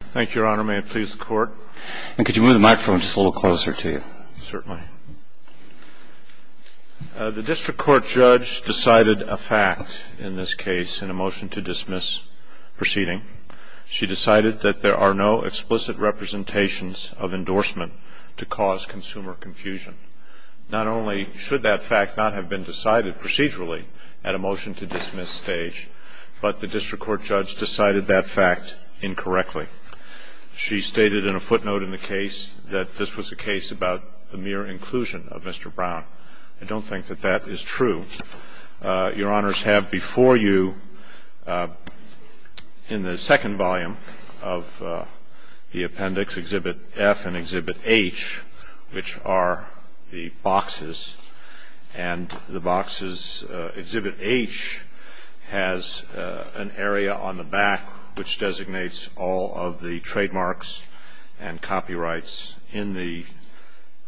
Thank you, Your Honor. May it please the Court? And could you move the microphone just a little closer to you? Certainly. The district court judge decided a fact in this case in a motion to dismiss proceeding. She decided that there are no explicit representations of endorsement to cause consumer confusion. Not only should that fact not have been decided procedurally at a motion to dismiss stage, but the district court judge decided that fact incorrectly. She stated in a footnote in the case that this was a case about the mere inclusion of Mr. Brown. I don't think that that is true. Your Honors have before you in the second volume of the appendix, Exhibit F and Exhibit H, which are the boxes, and the boxes, Exhibit H has an area on the back which designates all of the trademarks and copyrights in the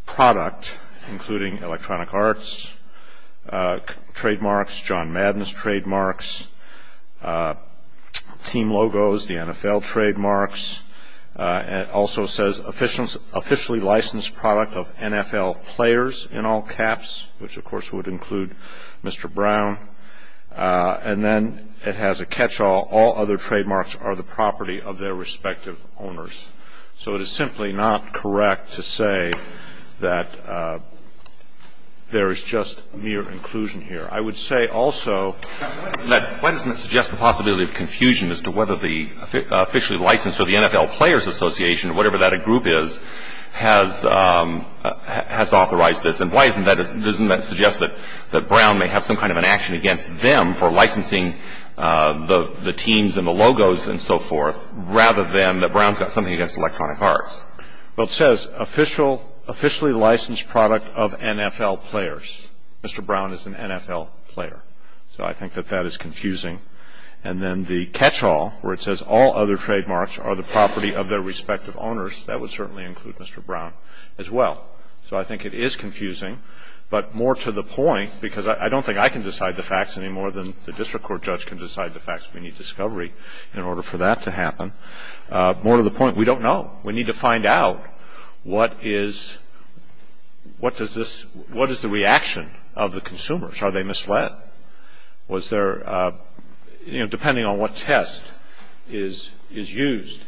product, including Electronic Arts trademarks, John Madness trademarks, team logos, the NFL trademarks. And it also says officially licensed product of NFL players in all caps, which, of course, would include Mr. Brown. And then it has a catch-all. All other trademarks are the property of their respective owners. So it is simply not correct to say that there is just mere inclusion here. I would say also that why doesn't it suggest the possibility of confusion as to whether the officially licensed or the NFL Players Association or whatever that group is has authorized this? And why doesn't that suggest that Brown may have some kind of an action against them for licensing the teams and the logos and so forth rather than that Brown's got something against Electronic Arts? Well, it says officially licensed product of NFL players. Mr. Brown is an NFL player. So I think that that is confusing. And then the catch-all, where it says all other trademarks are the property of their respective owners, that would certainly include Mr. Brown as well. So I think it is confusing, but more to the point, because I don't think I can decide the facts any more than the district court judge can decide the facts. We need discovery in order for that to happen. More to the point, we don't know. We need to find out what is the reaction of the consumers. Are they misled? Was there, you know, depending on what test is used.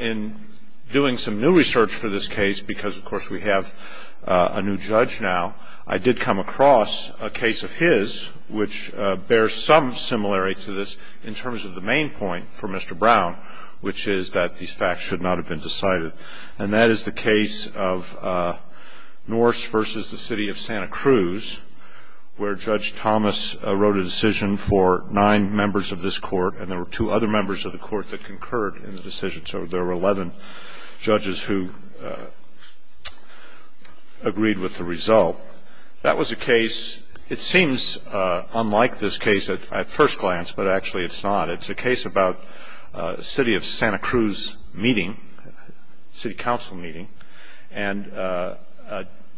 In doing some new research for this case, because, of course, we have a new judge now, I did come across a case of his which bears some similarity to this in terms of the main point for Mr. Brown, which is that these facts should not have been decided. And that is the case of Norse versus the city of Santa Cruz, where Judge Thomas wrote a decision for nine members of this court, and there were two other members of the court that concurred in the decision. So there were 11 judges who agreed with the result. That was a case, it seems unlike this case at first glance, but actually it's not. It's a case about the city of Santa Cruz meeting, city council meeting, and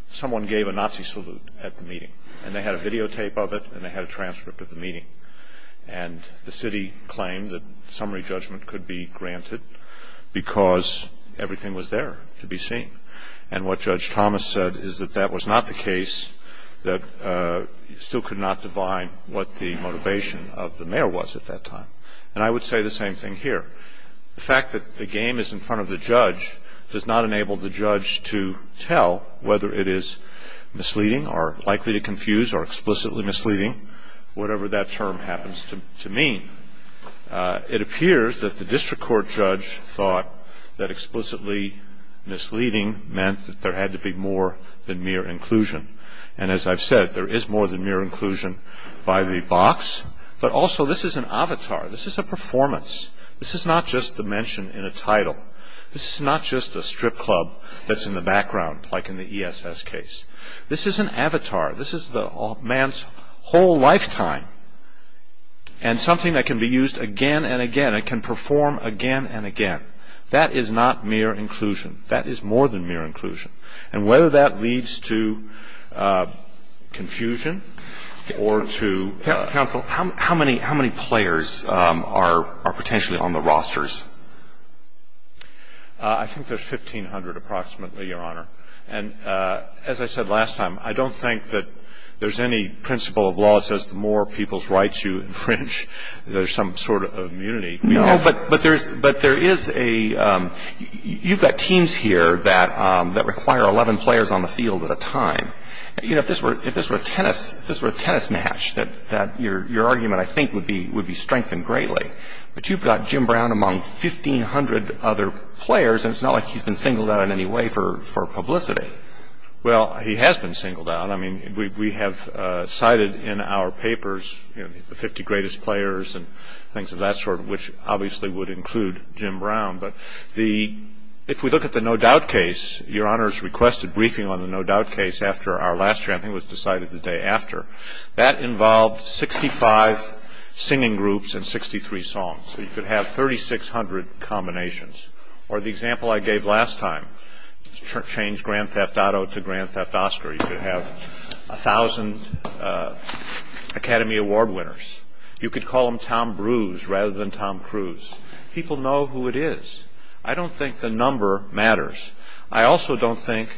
someone gave a Nazi salute at the meeting, and they had a videotape of it and they had a transcript of the meeting. And the city claimed that summary judgment could be granted because everything was there to be seen. And what Judge Thomas said is that that was not the case, that still could not divine what the motivation of the mayor was at that time. And I would say the same thing here. The fact that the game is in front of the judge does not enable the judge to tell whether it is misleading or likely to confuse or explicitly misleading, whatever that term happens to mean. It appears that the district court judge thought that explicitly misleading meant that there had to be more than mere inclusion. And as I've said, there is more than mere inclusion by the box, but also this is an avatar. This is a performance. This is not just the mention in a title. This is not just a strip club that's in the background like in the ESS case. This is an avatar. This is the man's whole lifetime and something that can be used again and again. It can perform again and again. That is not mere inclusion. That is more than mere inclusion. And whether that leads to confusion or to- Counsel, how many players are potentially on the rosters? I think there's 1,500 approximately, Your Honor. And as I said last time, I don't think that there's any principle of law that says the more people's rights you infringe, there's some sort of immunity. No, but there is a you've got teams here that require 11 players on the field at a time. You know, if this were a tennis match, your argument I think would be strengthened greatly. But you've got Jim Brown among 1,500 other players, and it's not like he's been singled out in any way for publicity. Well, he has been singled out. I mean, we have cited in our papers, you know, the 50 greatest players and things of that sort, which obviously would include Jim Brown. But if we look at the no-doubt case, Your Honor's requested briefing on the no-doubt case after our last hearing. I think it was decided the day after. That involved 65 singing groups and 63 songs. So you could have 3,600 combinations. Or the example I gave last time, change Grand Theft Auto to Grand Theft Oscar. You could have 1,000 Academy Award winners. You could call them Tom Bruise rather than Tom Cruise. People know who it is. I don't think the number matters. I also don't think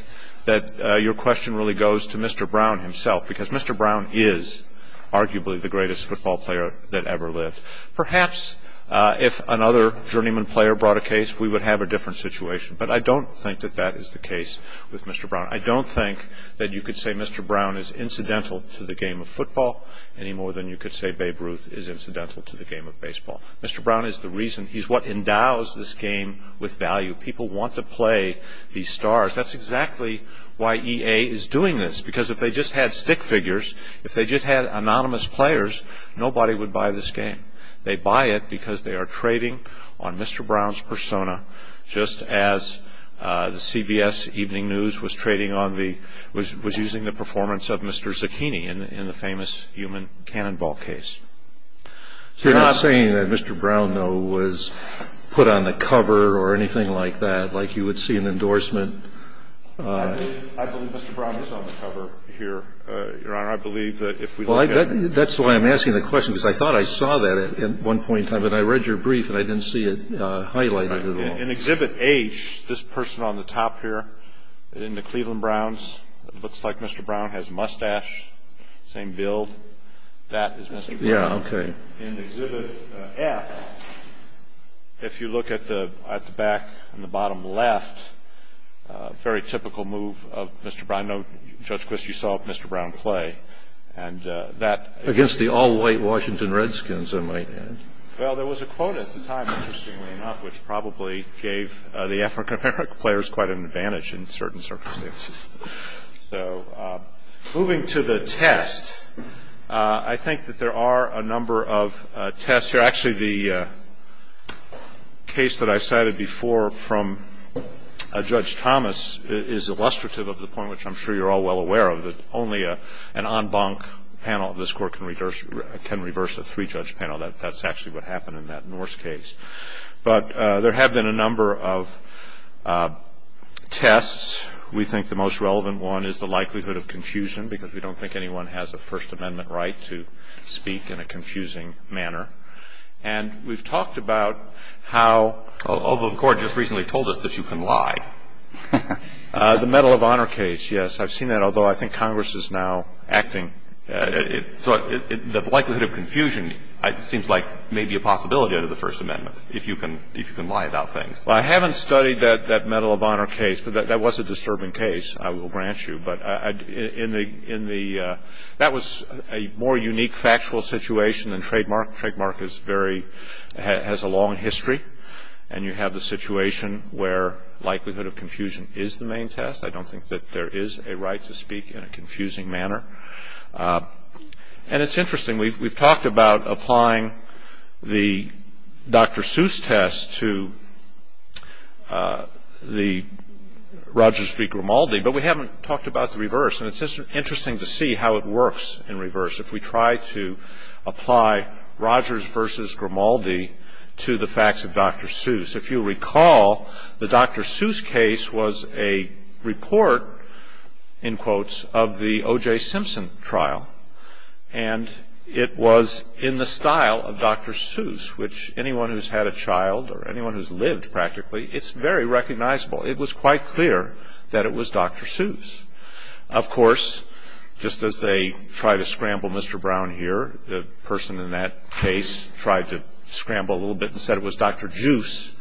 that your question really goes to Mr. Brown himself, because Mr. Brown is arguably the greatest football player that ever lived. Perhaps if another journeyman player brought a case, we would have a different situation. But I don't think that that is the case with Mr. Brown. I don't think that you could say Mr. Brown is incidental to the game of football any more than you could say Babe Ruth is incidental to the game of baseball. Mr. Brown is the reason. He's what endows this game with value. People want to play these stars. That's exactly why EA is doing this, because if they just had stick figures, if they just had anonymous players, nobody would buy this game. They buy it because they are trading on Mr. Brown's persona, just as the CBS evening news was using the performance of Mr. Zucchini in the famous human cannonball case. You're not saying that Mr. Brown, though, was put on the cover or anything like that, like you would see an endorsement? I believe Mr. Brown was on the cover here, Your Honor. I believe that if we look at it. That's why I'm asking the question, because I thought I saw that at one point in time, but I read your brief and I didn't see it highlighted at all. In Exhibit H, this person on the top here, in the Cleveland Browns, it looks like Mr. Brown has a mustache, same build. That is Mr. Brown. Yeah, okay. In Exhibit F, if you look at the back on the bottom left, a very typical move of Mr. Brown. I know, Judge Quist, you saw Mr. Brown play. Against the all-white Washington Redskins, I might add. Well, there was a quote at the time, interestingly enough, which probably gave the African-American players quite an advantage in certain circumstances. So moving to the test, I think that there are a number of tests here. Actually, the case that I cited before from Judge Thomas is illustrative of the point, which I'm sure you're all well aware of, that only an en banc panel of this Court can reverse a three-judge panel. That's actually what happened in that Norse case. But there have been a number of tests. We think the most relevant one is the likelihood of confusion, because we don't think anyone has a First Amendment right to speak in a confusing manner. And we've talked about how, although the Court just recently told us that you can lie, the Medal of Honor case, yes, I've seen that, although I think Congress is now acting. So the likelihood of confusion seems like maybe a possibility under the First Amendment, if you can lie about things. Well, I haven't studied that Medal of Honor case, but that was a disturbing case, I will grant you. But in the – that was a more unique factual situation than trademark. Trademark is very – has a long history, and you have the situation where likelihood of confusion is the main test. I don't think that there is a right to speak in a confusing manner. And it's interesting. We've talked about applying the Dr. Seuss test to the Rogers v. Grimaldi, but we haven't talked about the reverse. And it's interesting to see how it works in reverse. If we try to apply Rogers v. Grimaldi to the facts of Dr. Seuss, if you recall, the Dr. Seuss case was a report, in quotes, of the O.J. Simpson trial. And it was in the style of Dr. Seuss, which anyone who's had a child or anyone who's lived practically, it's very recognizable. It was quite clear that it was Dr. Seuss. Of course, just as they try to scramble Mr. Brown here, the person in that case tried to scramble a little bit and said it was Dr. Juice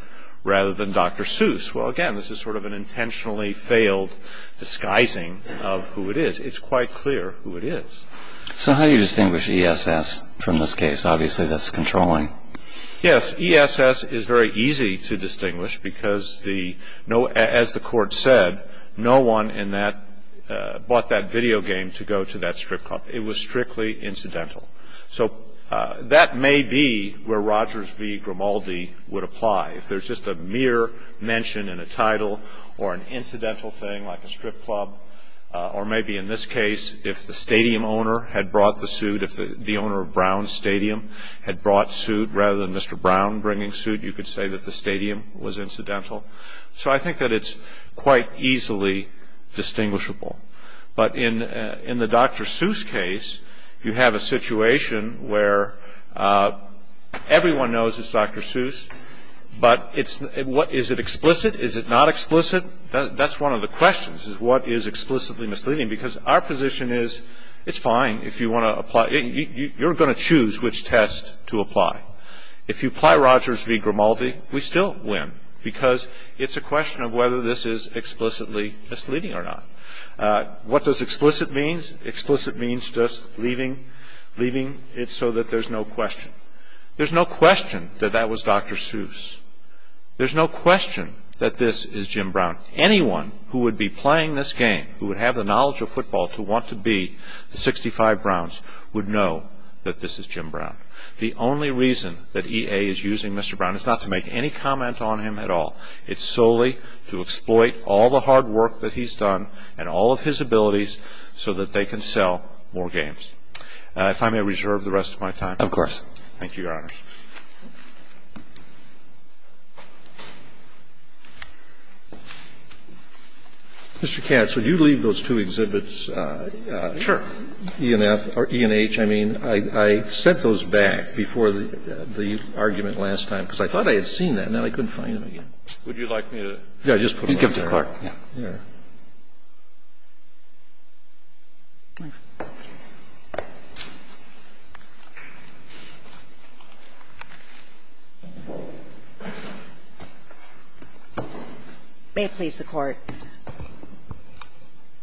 rather than Dr. Seuss. Well, again, this is sort of an intentionally failed disguising of who it is. It's quite clear who it is. So how do you distinguish ESS from this case? Obviously, that's controlling. Yes. ESS is very easy to distinguish because, as the court said, no one bought that video game to go to that strip club. It was strictly incidental. So that may be where Rogers v. Grimaldi would apply. If there's just a mere mention in a title or an incidental thing like a strip club, or maybe in this case if the stadium owner had brought the suit, if the owner of Brown Stadium had brought suit rather than Mr. Brown bringing suit, you could say that the stadium was incidental. So I think that it's quite easily distinguishable. But in the Dr. Seuss case, you have a situation where everyone knows it's Dr. Seuss, but is it explicit? Is it not explicit? That's one of the questions, is what is explicitly misleading? Because our position is it's fine if you want to apply. You're going to choose which test to apply. If you apply Rogers v. Grimaldi, we still win because it's a question of whether this is explicitly misleading or not. What does explicit mean? Explicit means just leaving it so that there's no question. There's no question that that was Dr. Seuss. There's no question that this is Jim Brown. Anyone who would be playing this game, who would have the knowledge of football to want to be the 65 Browns, would know that this is Jim Brown. The only reason that EA is using Mr. Brown is not to make any comment on him at all. It's solely to exploit all the hard work that he's done and all of his abilities so that they can sell more games. If I may reserve the rest of my time. Of course. Thank you, Your Honors. Mr. Katz, would you leave those two exhibits? Sure. ENF or ENH, I mean. I sent those back before the argument last time because I thought I had seen them and then I couldn't find them again. Would you like me to give them to Clark? Yeah. May it please the Court.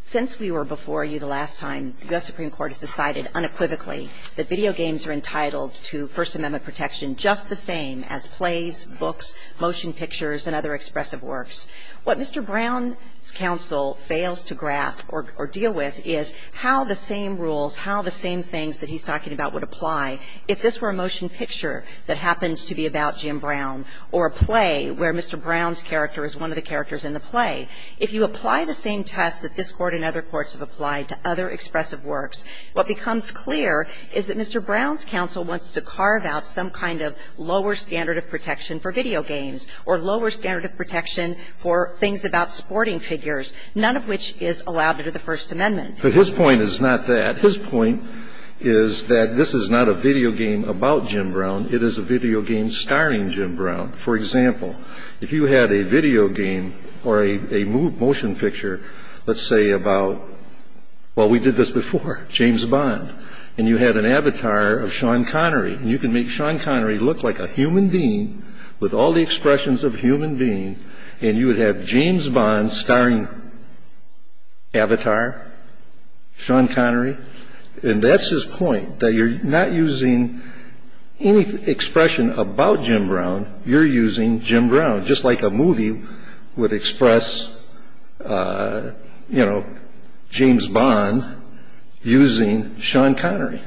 Since we were before you the last time, the U.S. Supreme Court has decided unequivocally that video games are entitled to First Amendment protection just the same as plays, books, motion pictures, and other expressive works. What Mr. Brown's counsel fails to grasp or deal with is how the same rules, how the same things that he's talking about would apply if this were a motion picture that happens to be about Jim Brown or a play where Mr. Brown's character is one of the characters in the play. If you apply the same tests that this Court and other courts have applied to other expressive works, what becomes clear is that Mr. Brown's counsel wants to carve out some kind of lower standard of protection for video games or lower standard of protection for things about sporting figures, none of which is allowed under the First Amendment. But his point is not that. His point is that this is not a video game about Jim Brown. It is a video game starring Jim Brown. For example, if you had a video game or a motion picture, let's say about, well, we did this before, James Bond. And you had an avatar of Sean Connery. And you can make Sean Connery look like a human being with all the expressions of a human being. And you would have James Bond starring avatar Sean Connery. And that's his point, that you're not using any expression about Jim Brown. You're using Jim Brown, just like a movie would express, you know, a movie star. And he's not using any expression about Jim Brown. He's using Sean Connery.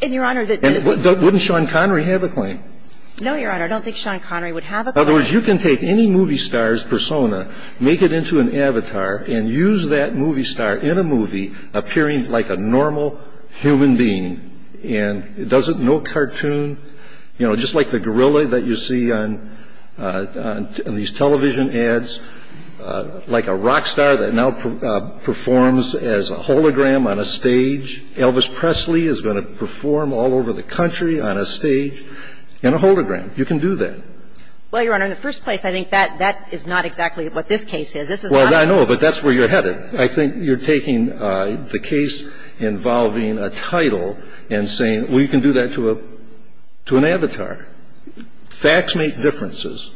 And, Your Honor, that is not true. And wouldn't Sean Connery have a claim? No, Your Honor. I don't think Sean Connery would have a claim. In other words, you can take any movie star's persona, make it into an avatar, and use that movie star in a movie appearing like a normal human being. And doesn't no cartoon, you know, just like the gorilla that you see on these television ads, like a rock star that now performs as a hologram on a stage, Elvis Presley is going to perform all over the country on a stage in a hologram. You can do that. Well, Your Honor, in the first place, I think that that is not exactly what this case is about. This is not the case. Well, I know. But that's where you're headed. I think you're taking the case involving a title and saying, well, you can do that to an avatar. Facts make differences.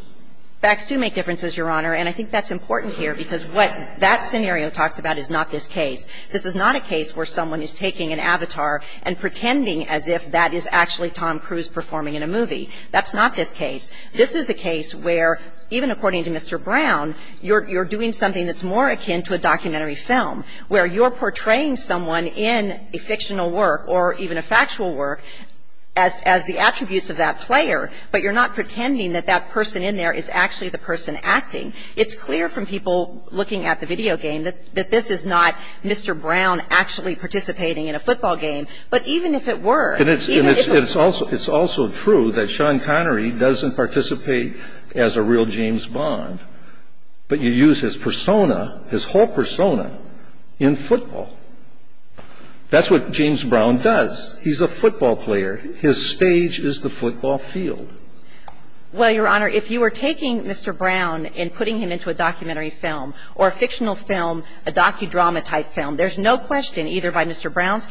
Facts do make differences, Your Honor. And I think that's important here because what that scenario talks about is not this case. This is not a case where someone is taking an avatar and pretending as if that is actually Tom Cruise performing in a movie. That's not this case. This is a case where, even according to Mr. Brown, you're doing something that's more akin to a documentary film, where you're portraying someone in a fictional work or even a factual work as the attributes of that player, but you're not pretending that that person in there is actually the person acting. It's clear from people looking at the video game that this is not Mr. Brown actually participating in a football game. But even if it were, even if it was... And it's also true that Sean Connery doesn't participate as a real James Bond, but you use his persona, his whole persona, in football. That's what James Brown does. He's a football player. His stage is the football field. Well, Your Honor, if you were taking Mr. Brown and putting him into a documentary film or a fictional film, a docudrama-type film, there's no question either by Mr. Brown or Mr. Connery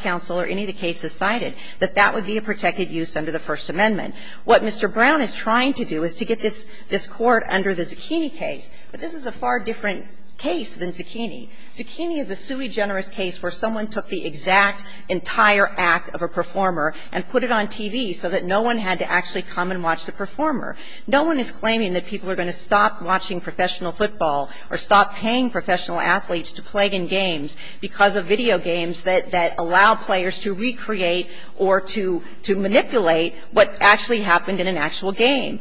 that that would be a protected use under the First Amendment. What Mr. Brown is trying to do is to get this court under the Zucchini case. But this is a far different case than Zucchini. Zucchini is a sui generis case where someone took the exact entire act of a performer and put it on TV so that no one had to actually come and watch the performer. No one is claiming that people are going to stop watching professional football or stop paying professional athletes to play in games because of video games that allow players to recreate or to manipulate what actually happened in an actual game.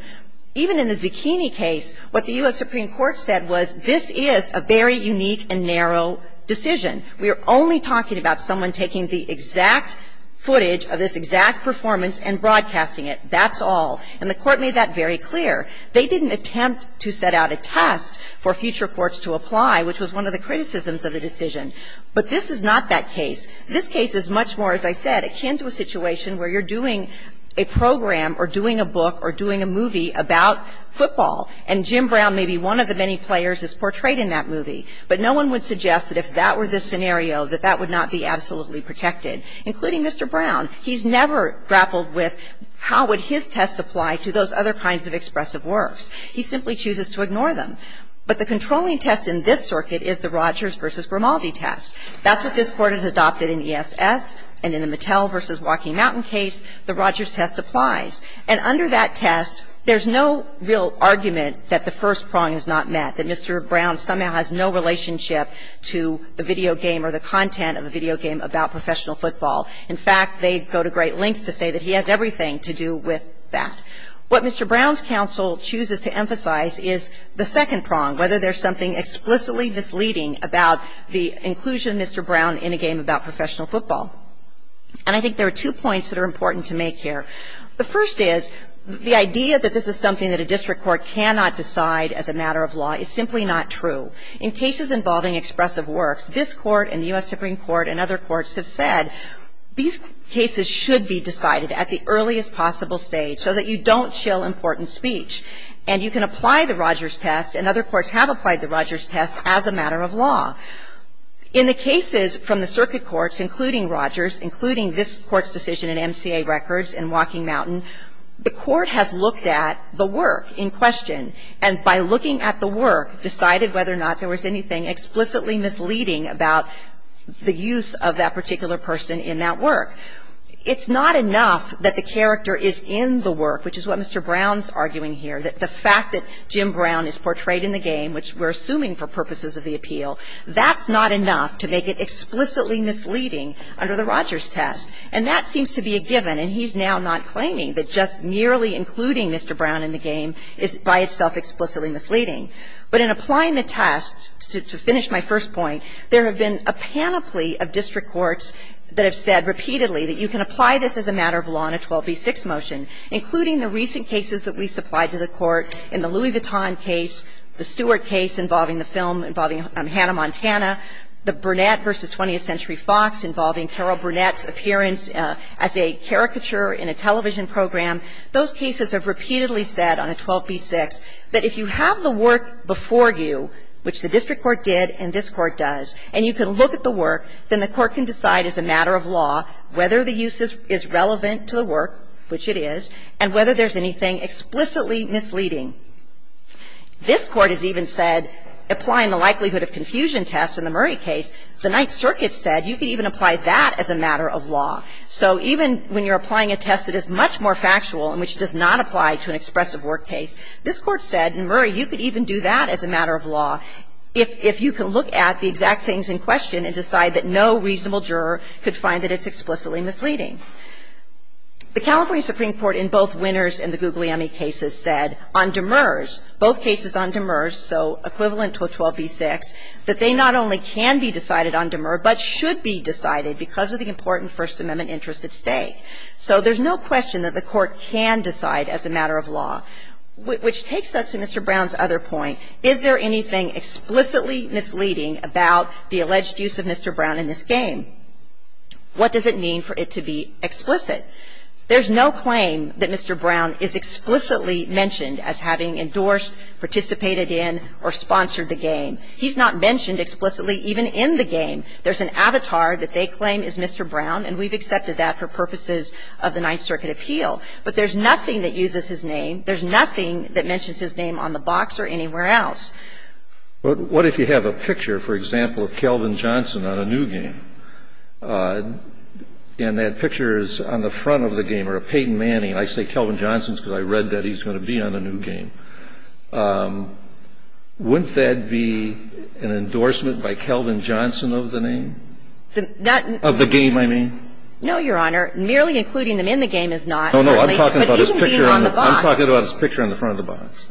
Even in the Zucchini case, what the U.S. Supreme Court said was this is a very unique and narrow decision. We are only talking about someone taking the exact footage of this exact performance and broadcasting it. That's all. And the Court made that very clear. They didn't attempt to set out a test for future courts to apply, which was one of the criticisms of the decision. But this is not that case. This case is much more, as I said, akin to a situation where you're doing a program or doing a book or doing a movie about football, and Jim Brown may be one of the many players that's portrayed in that movie. But no one would suggest that if that were the scenario, that that would not be absolutely protected, including Mr. Brown. He's never grappled with how would his tests apply to those other kinds of expressive works. He simply chooses to ignore them. But the controlling test in this circuit is the Rogers v. Grimaldi test. That's what this Court has adopted in ESS, and in the Mattel v. Walking Mountain case, the Rogers test applies. And under that test, there's no real argument that the first prong is not met, that Mr. Brown somehow has no relationship to the video game or the content of a video game about professional football. In fact, they go to great lengths to say that he has everything to do with that. What Mr. Brown's counsel chooses to emphasize is the second prong, whether there's something explicitly misleading about the inclusion of Mr. Brown in a game about professional football. And I think there are two points that are important to make here. The first is the idea that this is something that a district court cannot decide as a matter of law is simply not true. In cases involving expressive works, this Court and the U.S. Supreme Court and other courts, these cases should be decided at the earliest possible stage so that you don't shill important speech. And you can apply the Rogers test, and other courts have applied the Rogers test, as a matter of law. In the cases from the circuit courts, including Rogers, including this Court's decision in MCA Records and Walking Mountain, the Court has looked at the work in question, and by looking at the work, decided whether or not there was anything explicitly misleading about the use of that particular person in that work. It's not enough that the character is in the work, which is what Mr. Brown's arguing here, that the fact that Jim Brown is portrayed in the game, which we're assuming for purposes of the appeal, that's not enough to make it explicitly misleading under the Rogers test. And that seems to be a given, and he's now not claiming that just nearly including Mr. Brown in the game is by itself explicitly misleading. But in applying the test, to finish my first point, there have been a panoply of district courts that have said repeatedly that you can apply this as a matter of law in a 12b-6 motion, including the recent cases that we supplied to the Court in the Louis Vuitton case, the Stewart case involving the film, involving Hannah Montana, the Burnett v. 20th Century Fox involving Carol Burnett's appearance as a caricature in a television program. Those cases have repeatedly said on a 12b-6 that if you have the work before you, which the district court did and this Court does, and you can look at the work, then the Court can decide as a matter of law whether the use is relevant to the work, which it is, and whether there's anything explicitly misleading. This Court has even said, applying the likelihood of confusion test in the Murray case, the Ninth Circuit said you can even apply that as a matter of law. So even when you're applying a test that is much more factual and which does not apply to an expressive work case, this Court said in Murray you could even do that as a matter of law if you can look at the exact things in question and decide that no reasonable juror could find that it's explicitly misleading. The California Supreme Court in both Winners and the Guglielmi cases said on Demers, both cases on Demers, so equivalent to a 12b-6, that they not only can be decided on Demers, but should be decided because of the important First Amendment interest at stake. So there's no question that the Court can decide as a matter of law. Which takes us to Mr. Brown's other point. Is there anything explicitly misleading about the alleged use of Mr. Brown in this game? What does it mean for it to be explicit? There's no claim that Mr. Brown is explicitly mentioned as having endorsed, participated in, or sponsored the game. He's not mentioned explicitly even in the game. There's an avatar that they claim is Mr. Brown, and we've accepted that for purposes of the Ninth Circuit appeal. But there's nothing that uses his name. There's nothing that mentions his name on the box or anywhere else. But what if you have a picture, for example, of Kelvin Johnson on a new game? And that picture is on the front of the game, or a Peyton Manning. I say Kelvin Johnson because I read that he's going to be on a new game. Wouldn't that be an endorsement by Kelvin Johnson of the name? Of the game, I mean? No, Your Honor. Merely including them in the game is not. No, no. I'm talking about his picture on the front of the box.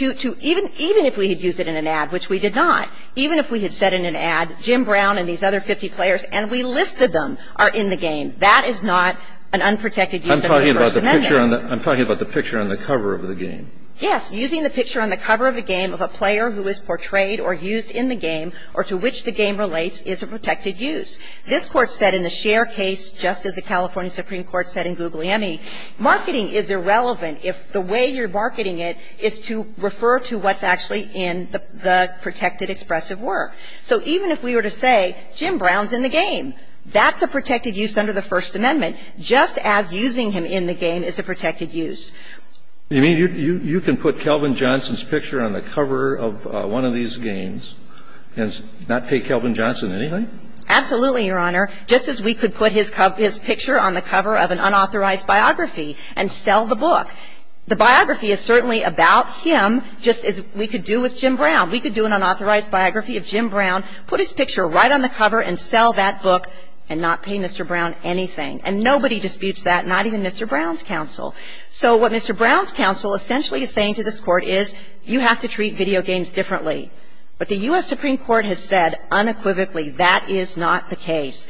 Even if we had used it in an ad, which we did not, even if we had said in an ad Jim Brown and these other 50 players and we listed them are in the game, that is not an unprotected use of the first amendment. I'm talking about the picture on the cover of the game. Yes. Using the picture on the cover of the game of a player who is portrayed or used in the game or to which the game relates is a protected use. This Court said in the Scheer case, just as the California Supreme Court said in Guglielmi, marketing is irrelevant if the way you're marketing it is to refer to what's actually in the protected expressive work. So even if we were to say Jim Brown's in the game, that's a protected use under the First Amendment, just as using him in the game is a protected use. You mean you can put Kelvin Johnson's picture on the cover of one of these games and not pay Kelvin Johnson anything? Absolutely, Your Honor. Just as we could put his picture on the cover of an unauthorized biography and sell the book. The biography is certainly about him, just as we could do with Jim Brown. We could do an unauthorized biography of Jim Brown, put his picture right on the cover and sell that book and not pay Mr. Brown anything. And nobody disputes that, not even Mr. Brown's counsel. So what Mr. Brown's counsel essentially is saying to this Court is you have to treat video games differently. But the U.S. Supreme Court has said unequivocally that is not the case.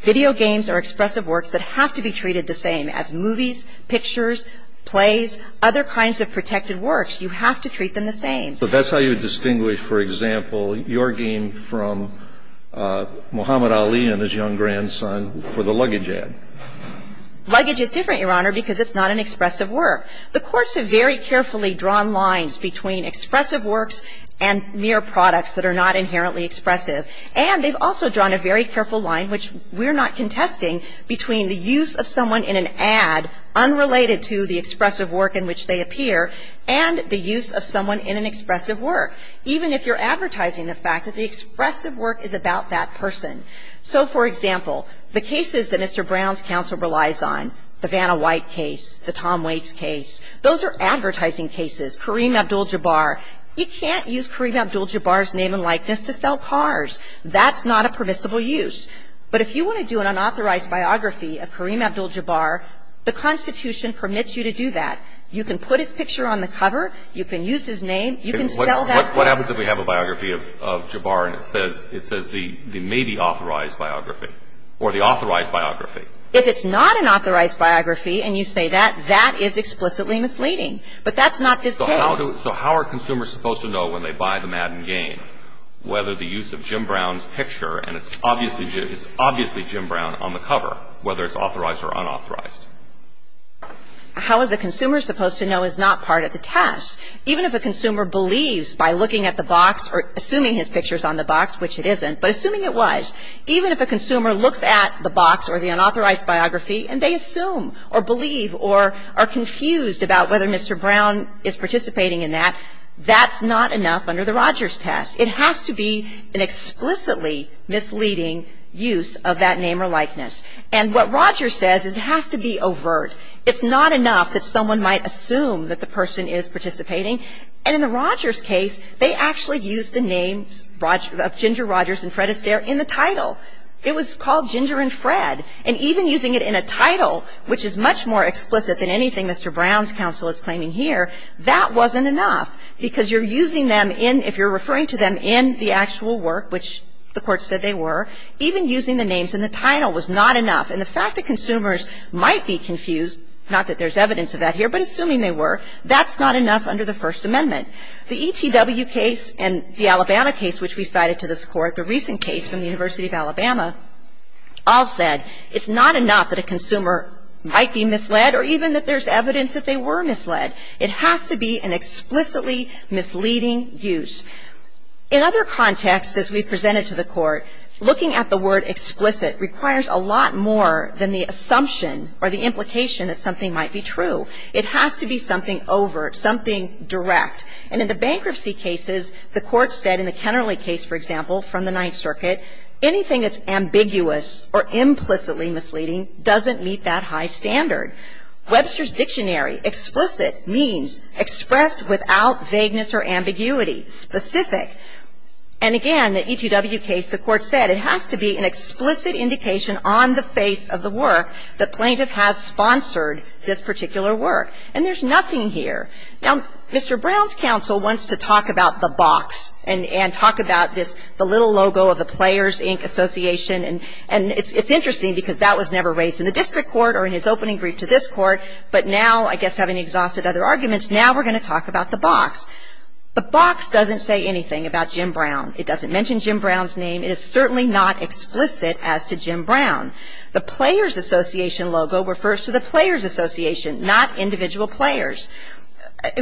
Video games are expressive works that have to be treated the same as movies, pictures, plays, other kinds of protected works. You have to treat them the same. But that's how you distinguish, for example, your game from Muhammad Ali and his young grandson for the luggage ad. Luggage is different, Your Honor, because it's not an expressive work. The courts have very carefully drawn lines between expressive works and mere products that are not inherently expressive. And they've also drawn a very careful line, which we're not contesting, between the use of someone in an ad unrelated to the expressive work in which they appear and the use of someone in an expressive work, even if you're advertising the fact that the expressive work is about that person. So for example, the cases that Mr. Brown's counsel relies on, the Vanna White case, the Tom Waits case, those are advertising cases. Kareem Abdul-Jabbar. You can't use Kareem Abdul-Jabbar's name and likeness to sell cars. That's not a permissible use. But if you want to do an unauthorized biography of Kareem Abdul-Jabbar, the Constitution permits you to do that. You can put his picture on the cover. You can use his name. You can sell that book. What happens if we have a biography of Jabbar and it says the maybe authorized biography or the authorized biography? If it's not an authorized biography and you say that, that is explicitly misleading. But that's not this case. So how are consumers supposed to know when they buy the Madden game whether the use of Jim Brown's picture, and it's obviously Jim Brown on the cover, whether it's authorized or unauthorized? How is a consumer supposed to know is not part of the test? Even if a consumer believes by looking at the box or assuming his picture is on the box, which it isn't, but assuming it was. Even if a consumer looks at the box or the unauthorized biography and they assume or believe or are confused about whether Mr. Brown is participating in that, that's not enough under the Rogers test. It has to be an explicitly misleading use of that name or likeness. And what Rogers says is it has to be overt. It's not enough that someone might assume that the person is participating. And in the Rogers case, they actually used the names of Ginger Rogers and Fred Astaire in the title. It was called Ginger and Fred. And even using it in a title, which is much more explicit than anything Mr. Brown's counsel is claiming here, that wasn't enough because you're using them in, if you're referring to them in the actual work, which the Court said they were, even using the names in the title was not enough. And the fact that consumers might be confused, not that there's evidence of that here, but assuming they were, that's not enough under the First Amendment. The ETW case and the Alabama case, which we cited to this Court, the recent case from the University of Alabama, all said it's not enough that a consumer might be misled or even that there's evidence that they were misled. It has to be an explicitly misleading use. In other contexts, as we presented to the Court, looking at the word explicit requires a lot more than the assumption or the implication that something might be true. It has to be something overt, something direct. And in the bankruptcy cases, the Court said in the Kennerly case, for example, from the Ninth Circuit, anything that's ambiguous or implicitly misleading doesn't meet that high standard. Webster's Dictionary, explicit means expressed without vagueness or ambiguity, specific. And again, the ETW case, the Court said it has to be an explicit indication on the face of the work that plaintiff has sponsored this particular work. And there's nothing here. Now, Mr. Brown's counsel wants to talk about the box and talk about this, the little logo of the Players, Inc. Association, and it's interesting because that was never raised in the district court or in his opening brief to this Court. But now, I guess having exhausted other arguments, now we're going to talk about the box. The box doesn't say anything about Jim Brown. It doesn't mention Jim Brown's name. It is certainly not explicit as to Jim Brown. The Players Association logo refers to the Players Association, not individual players.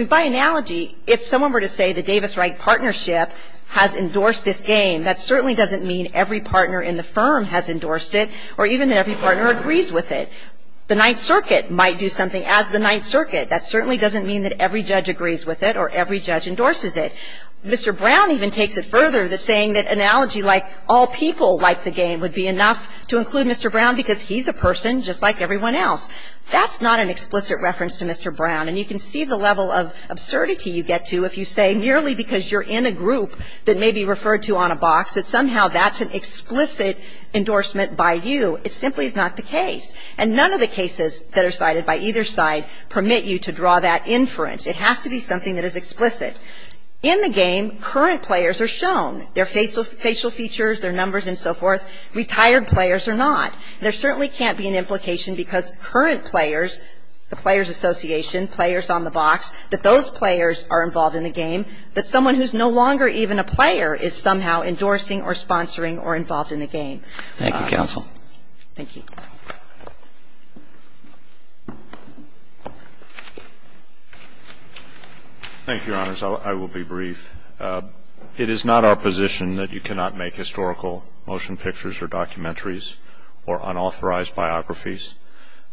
By analogy, if someone were to say the Davis-Wright partnership has endorsed this game, that certainly doesn't mean every partner in the firm has endorsed it or even that every partner agrees with it. The Ninth Circuit might do something as the Ninth Circuit. That certainly doesn't mean that every judge agrees with it or every judge endorses it. Mr. Brown even takes it further, saying that analogy like all people like the game would be enough to include Mr. Brown because he's a person just like everyone else. That's not an explicit reference to Mr. Brown. And you can see the level of absurdity you get to if you say merely because you're in a group that may be referred to on a box that somehow that's an explicit endorsement by you. It simply is not the case. And none of the cases that are cited by either side permit you to draw that inference. It has to be something that is explicit. In the game, current players are shown, their facial features, their numbers and so forth. Retired players are not. And there certainly can't be an implication because current players, the Players Association, players on the box, that those players are involved in the game, that someone who's no longer even a player is somehow endorsing or sponsoring or involved in the game. Thank you, counsel. Thank you. Thank you, Your Honors. I will be brief. It is not our position that you cannot make historical motion pictures or documentaries or unauthorized biographies.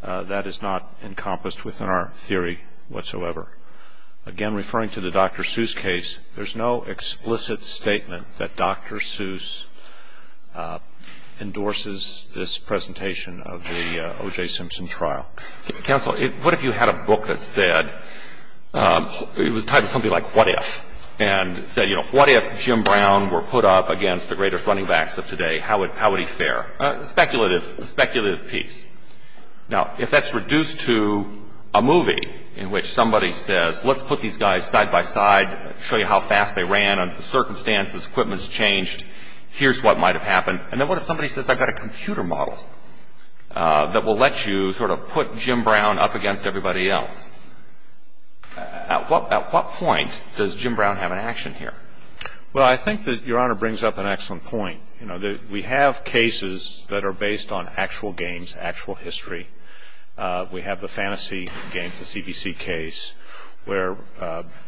That is not encompassed within our theory whatsoever. Again, referring to the Dr. Seuss case, there's no explicit statement that Dr. Seuss endorses this presentation of the O.J. Simpson trial. Counsel, what if you had a book that said, it was titled something like What If? And it said, you know, what if Jim Brown were put up against the greatest running backs of today? How would he fare? A speculative piece. Now, if that's reduced to a movie in which somebody says, let's put these guys side by side, show you how fast they ran under the circumstances, equipment's changed, here's what might have happened. And then what if somebody says, I've got a computer model that will let you sort of put Jim Brown up against everybody else? At what point does Jim Brown have an action here? Well, I think that Your Honor brings up an excellent point. You know, we have cases that are based on actual games, actual history. We have the fantasy game, the CBC case, where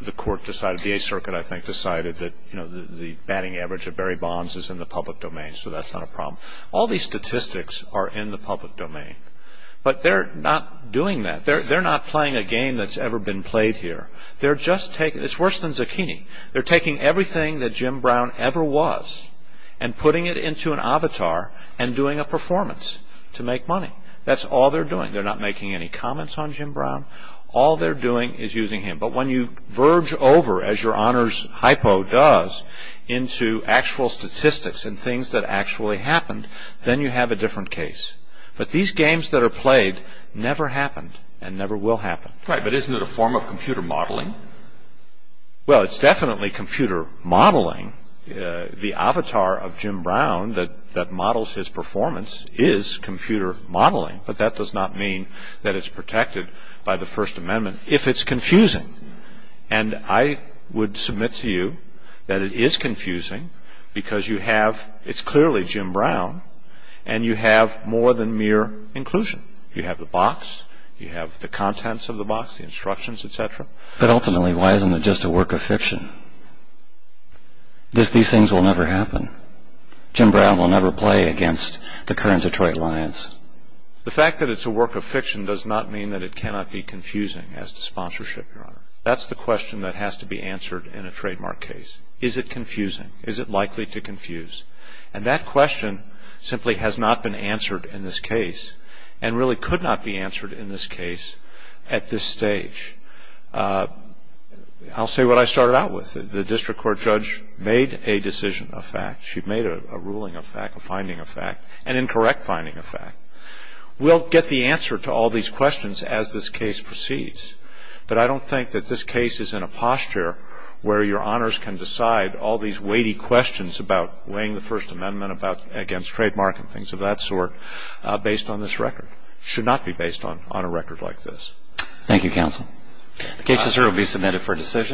the court decided, the Eighth Circuit, I think, decided that the batting average of Barry Bonds is in the public domain, so that's not a problem. All these statistics are in the public domain. But they're not doing that. They're not playing a game that's ever been played here. They're just taking, it's worse than zucchini. They're taking everything that Jim Brown ever was and putting it into an avatar and doing a performance to make money. That's all they're doing. They're not making any comments on Jim Brown. All they're doing is using him. But when you verge over, as Your Honor's hypo does, into actual statistics and things that actually happened, then you have a different case. But these games that are played never happened and never will happen. Right, but isn't it a form of computer modeling? Well, it's definitely computer modeling. The avatar of Jim Brown that models his performance is computer modeling, but that does not mean that it's protected by the First Amendment. If it's confusing, and I would submit to you that it is confusing because you have, it's clearly Jim Brown, and you have more than mere inclusion. You have the box. You have the contents of the box, the instructions, et cetera. But ultimately, why isn't it just a work of fiction? These things will never happen. Jim Brown will never play against the current Detroit Lions. The fact that it's a work of fiction does not mean that it cannot be confusing as to sponsorship, Your Honor. That's the question that has to be answered in a trademark case. Is it confusing? Is it likely to confuse? And that question simply has not been answered in this case and really could not be answered in this case at this stage. I'll say what I started out with. The district court judge made a decision of fact. She made a ruling of fact, a finding of fact, an incorrect finding of fact. We'll get the answer to all these questions as this case proceeds, but I don't think that this case is in a posture where Your Honors can decide all these weighty questions about weighing the First Amendment against trademark and things of that sort based on this record. It should not be based on a record like this. Thank you, counsel. The case is here to be submitted for decision.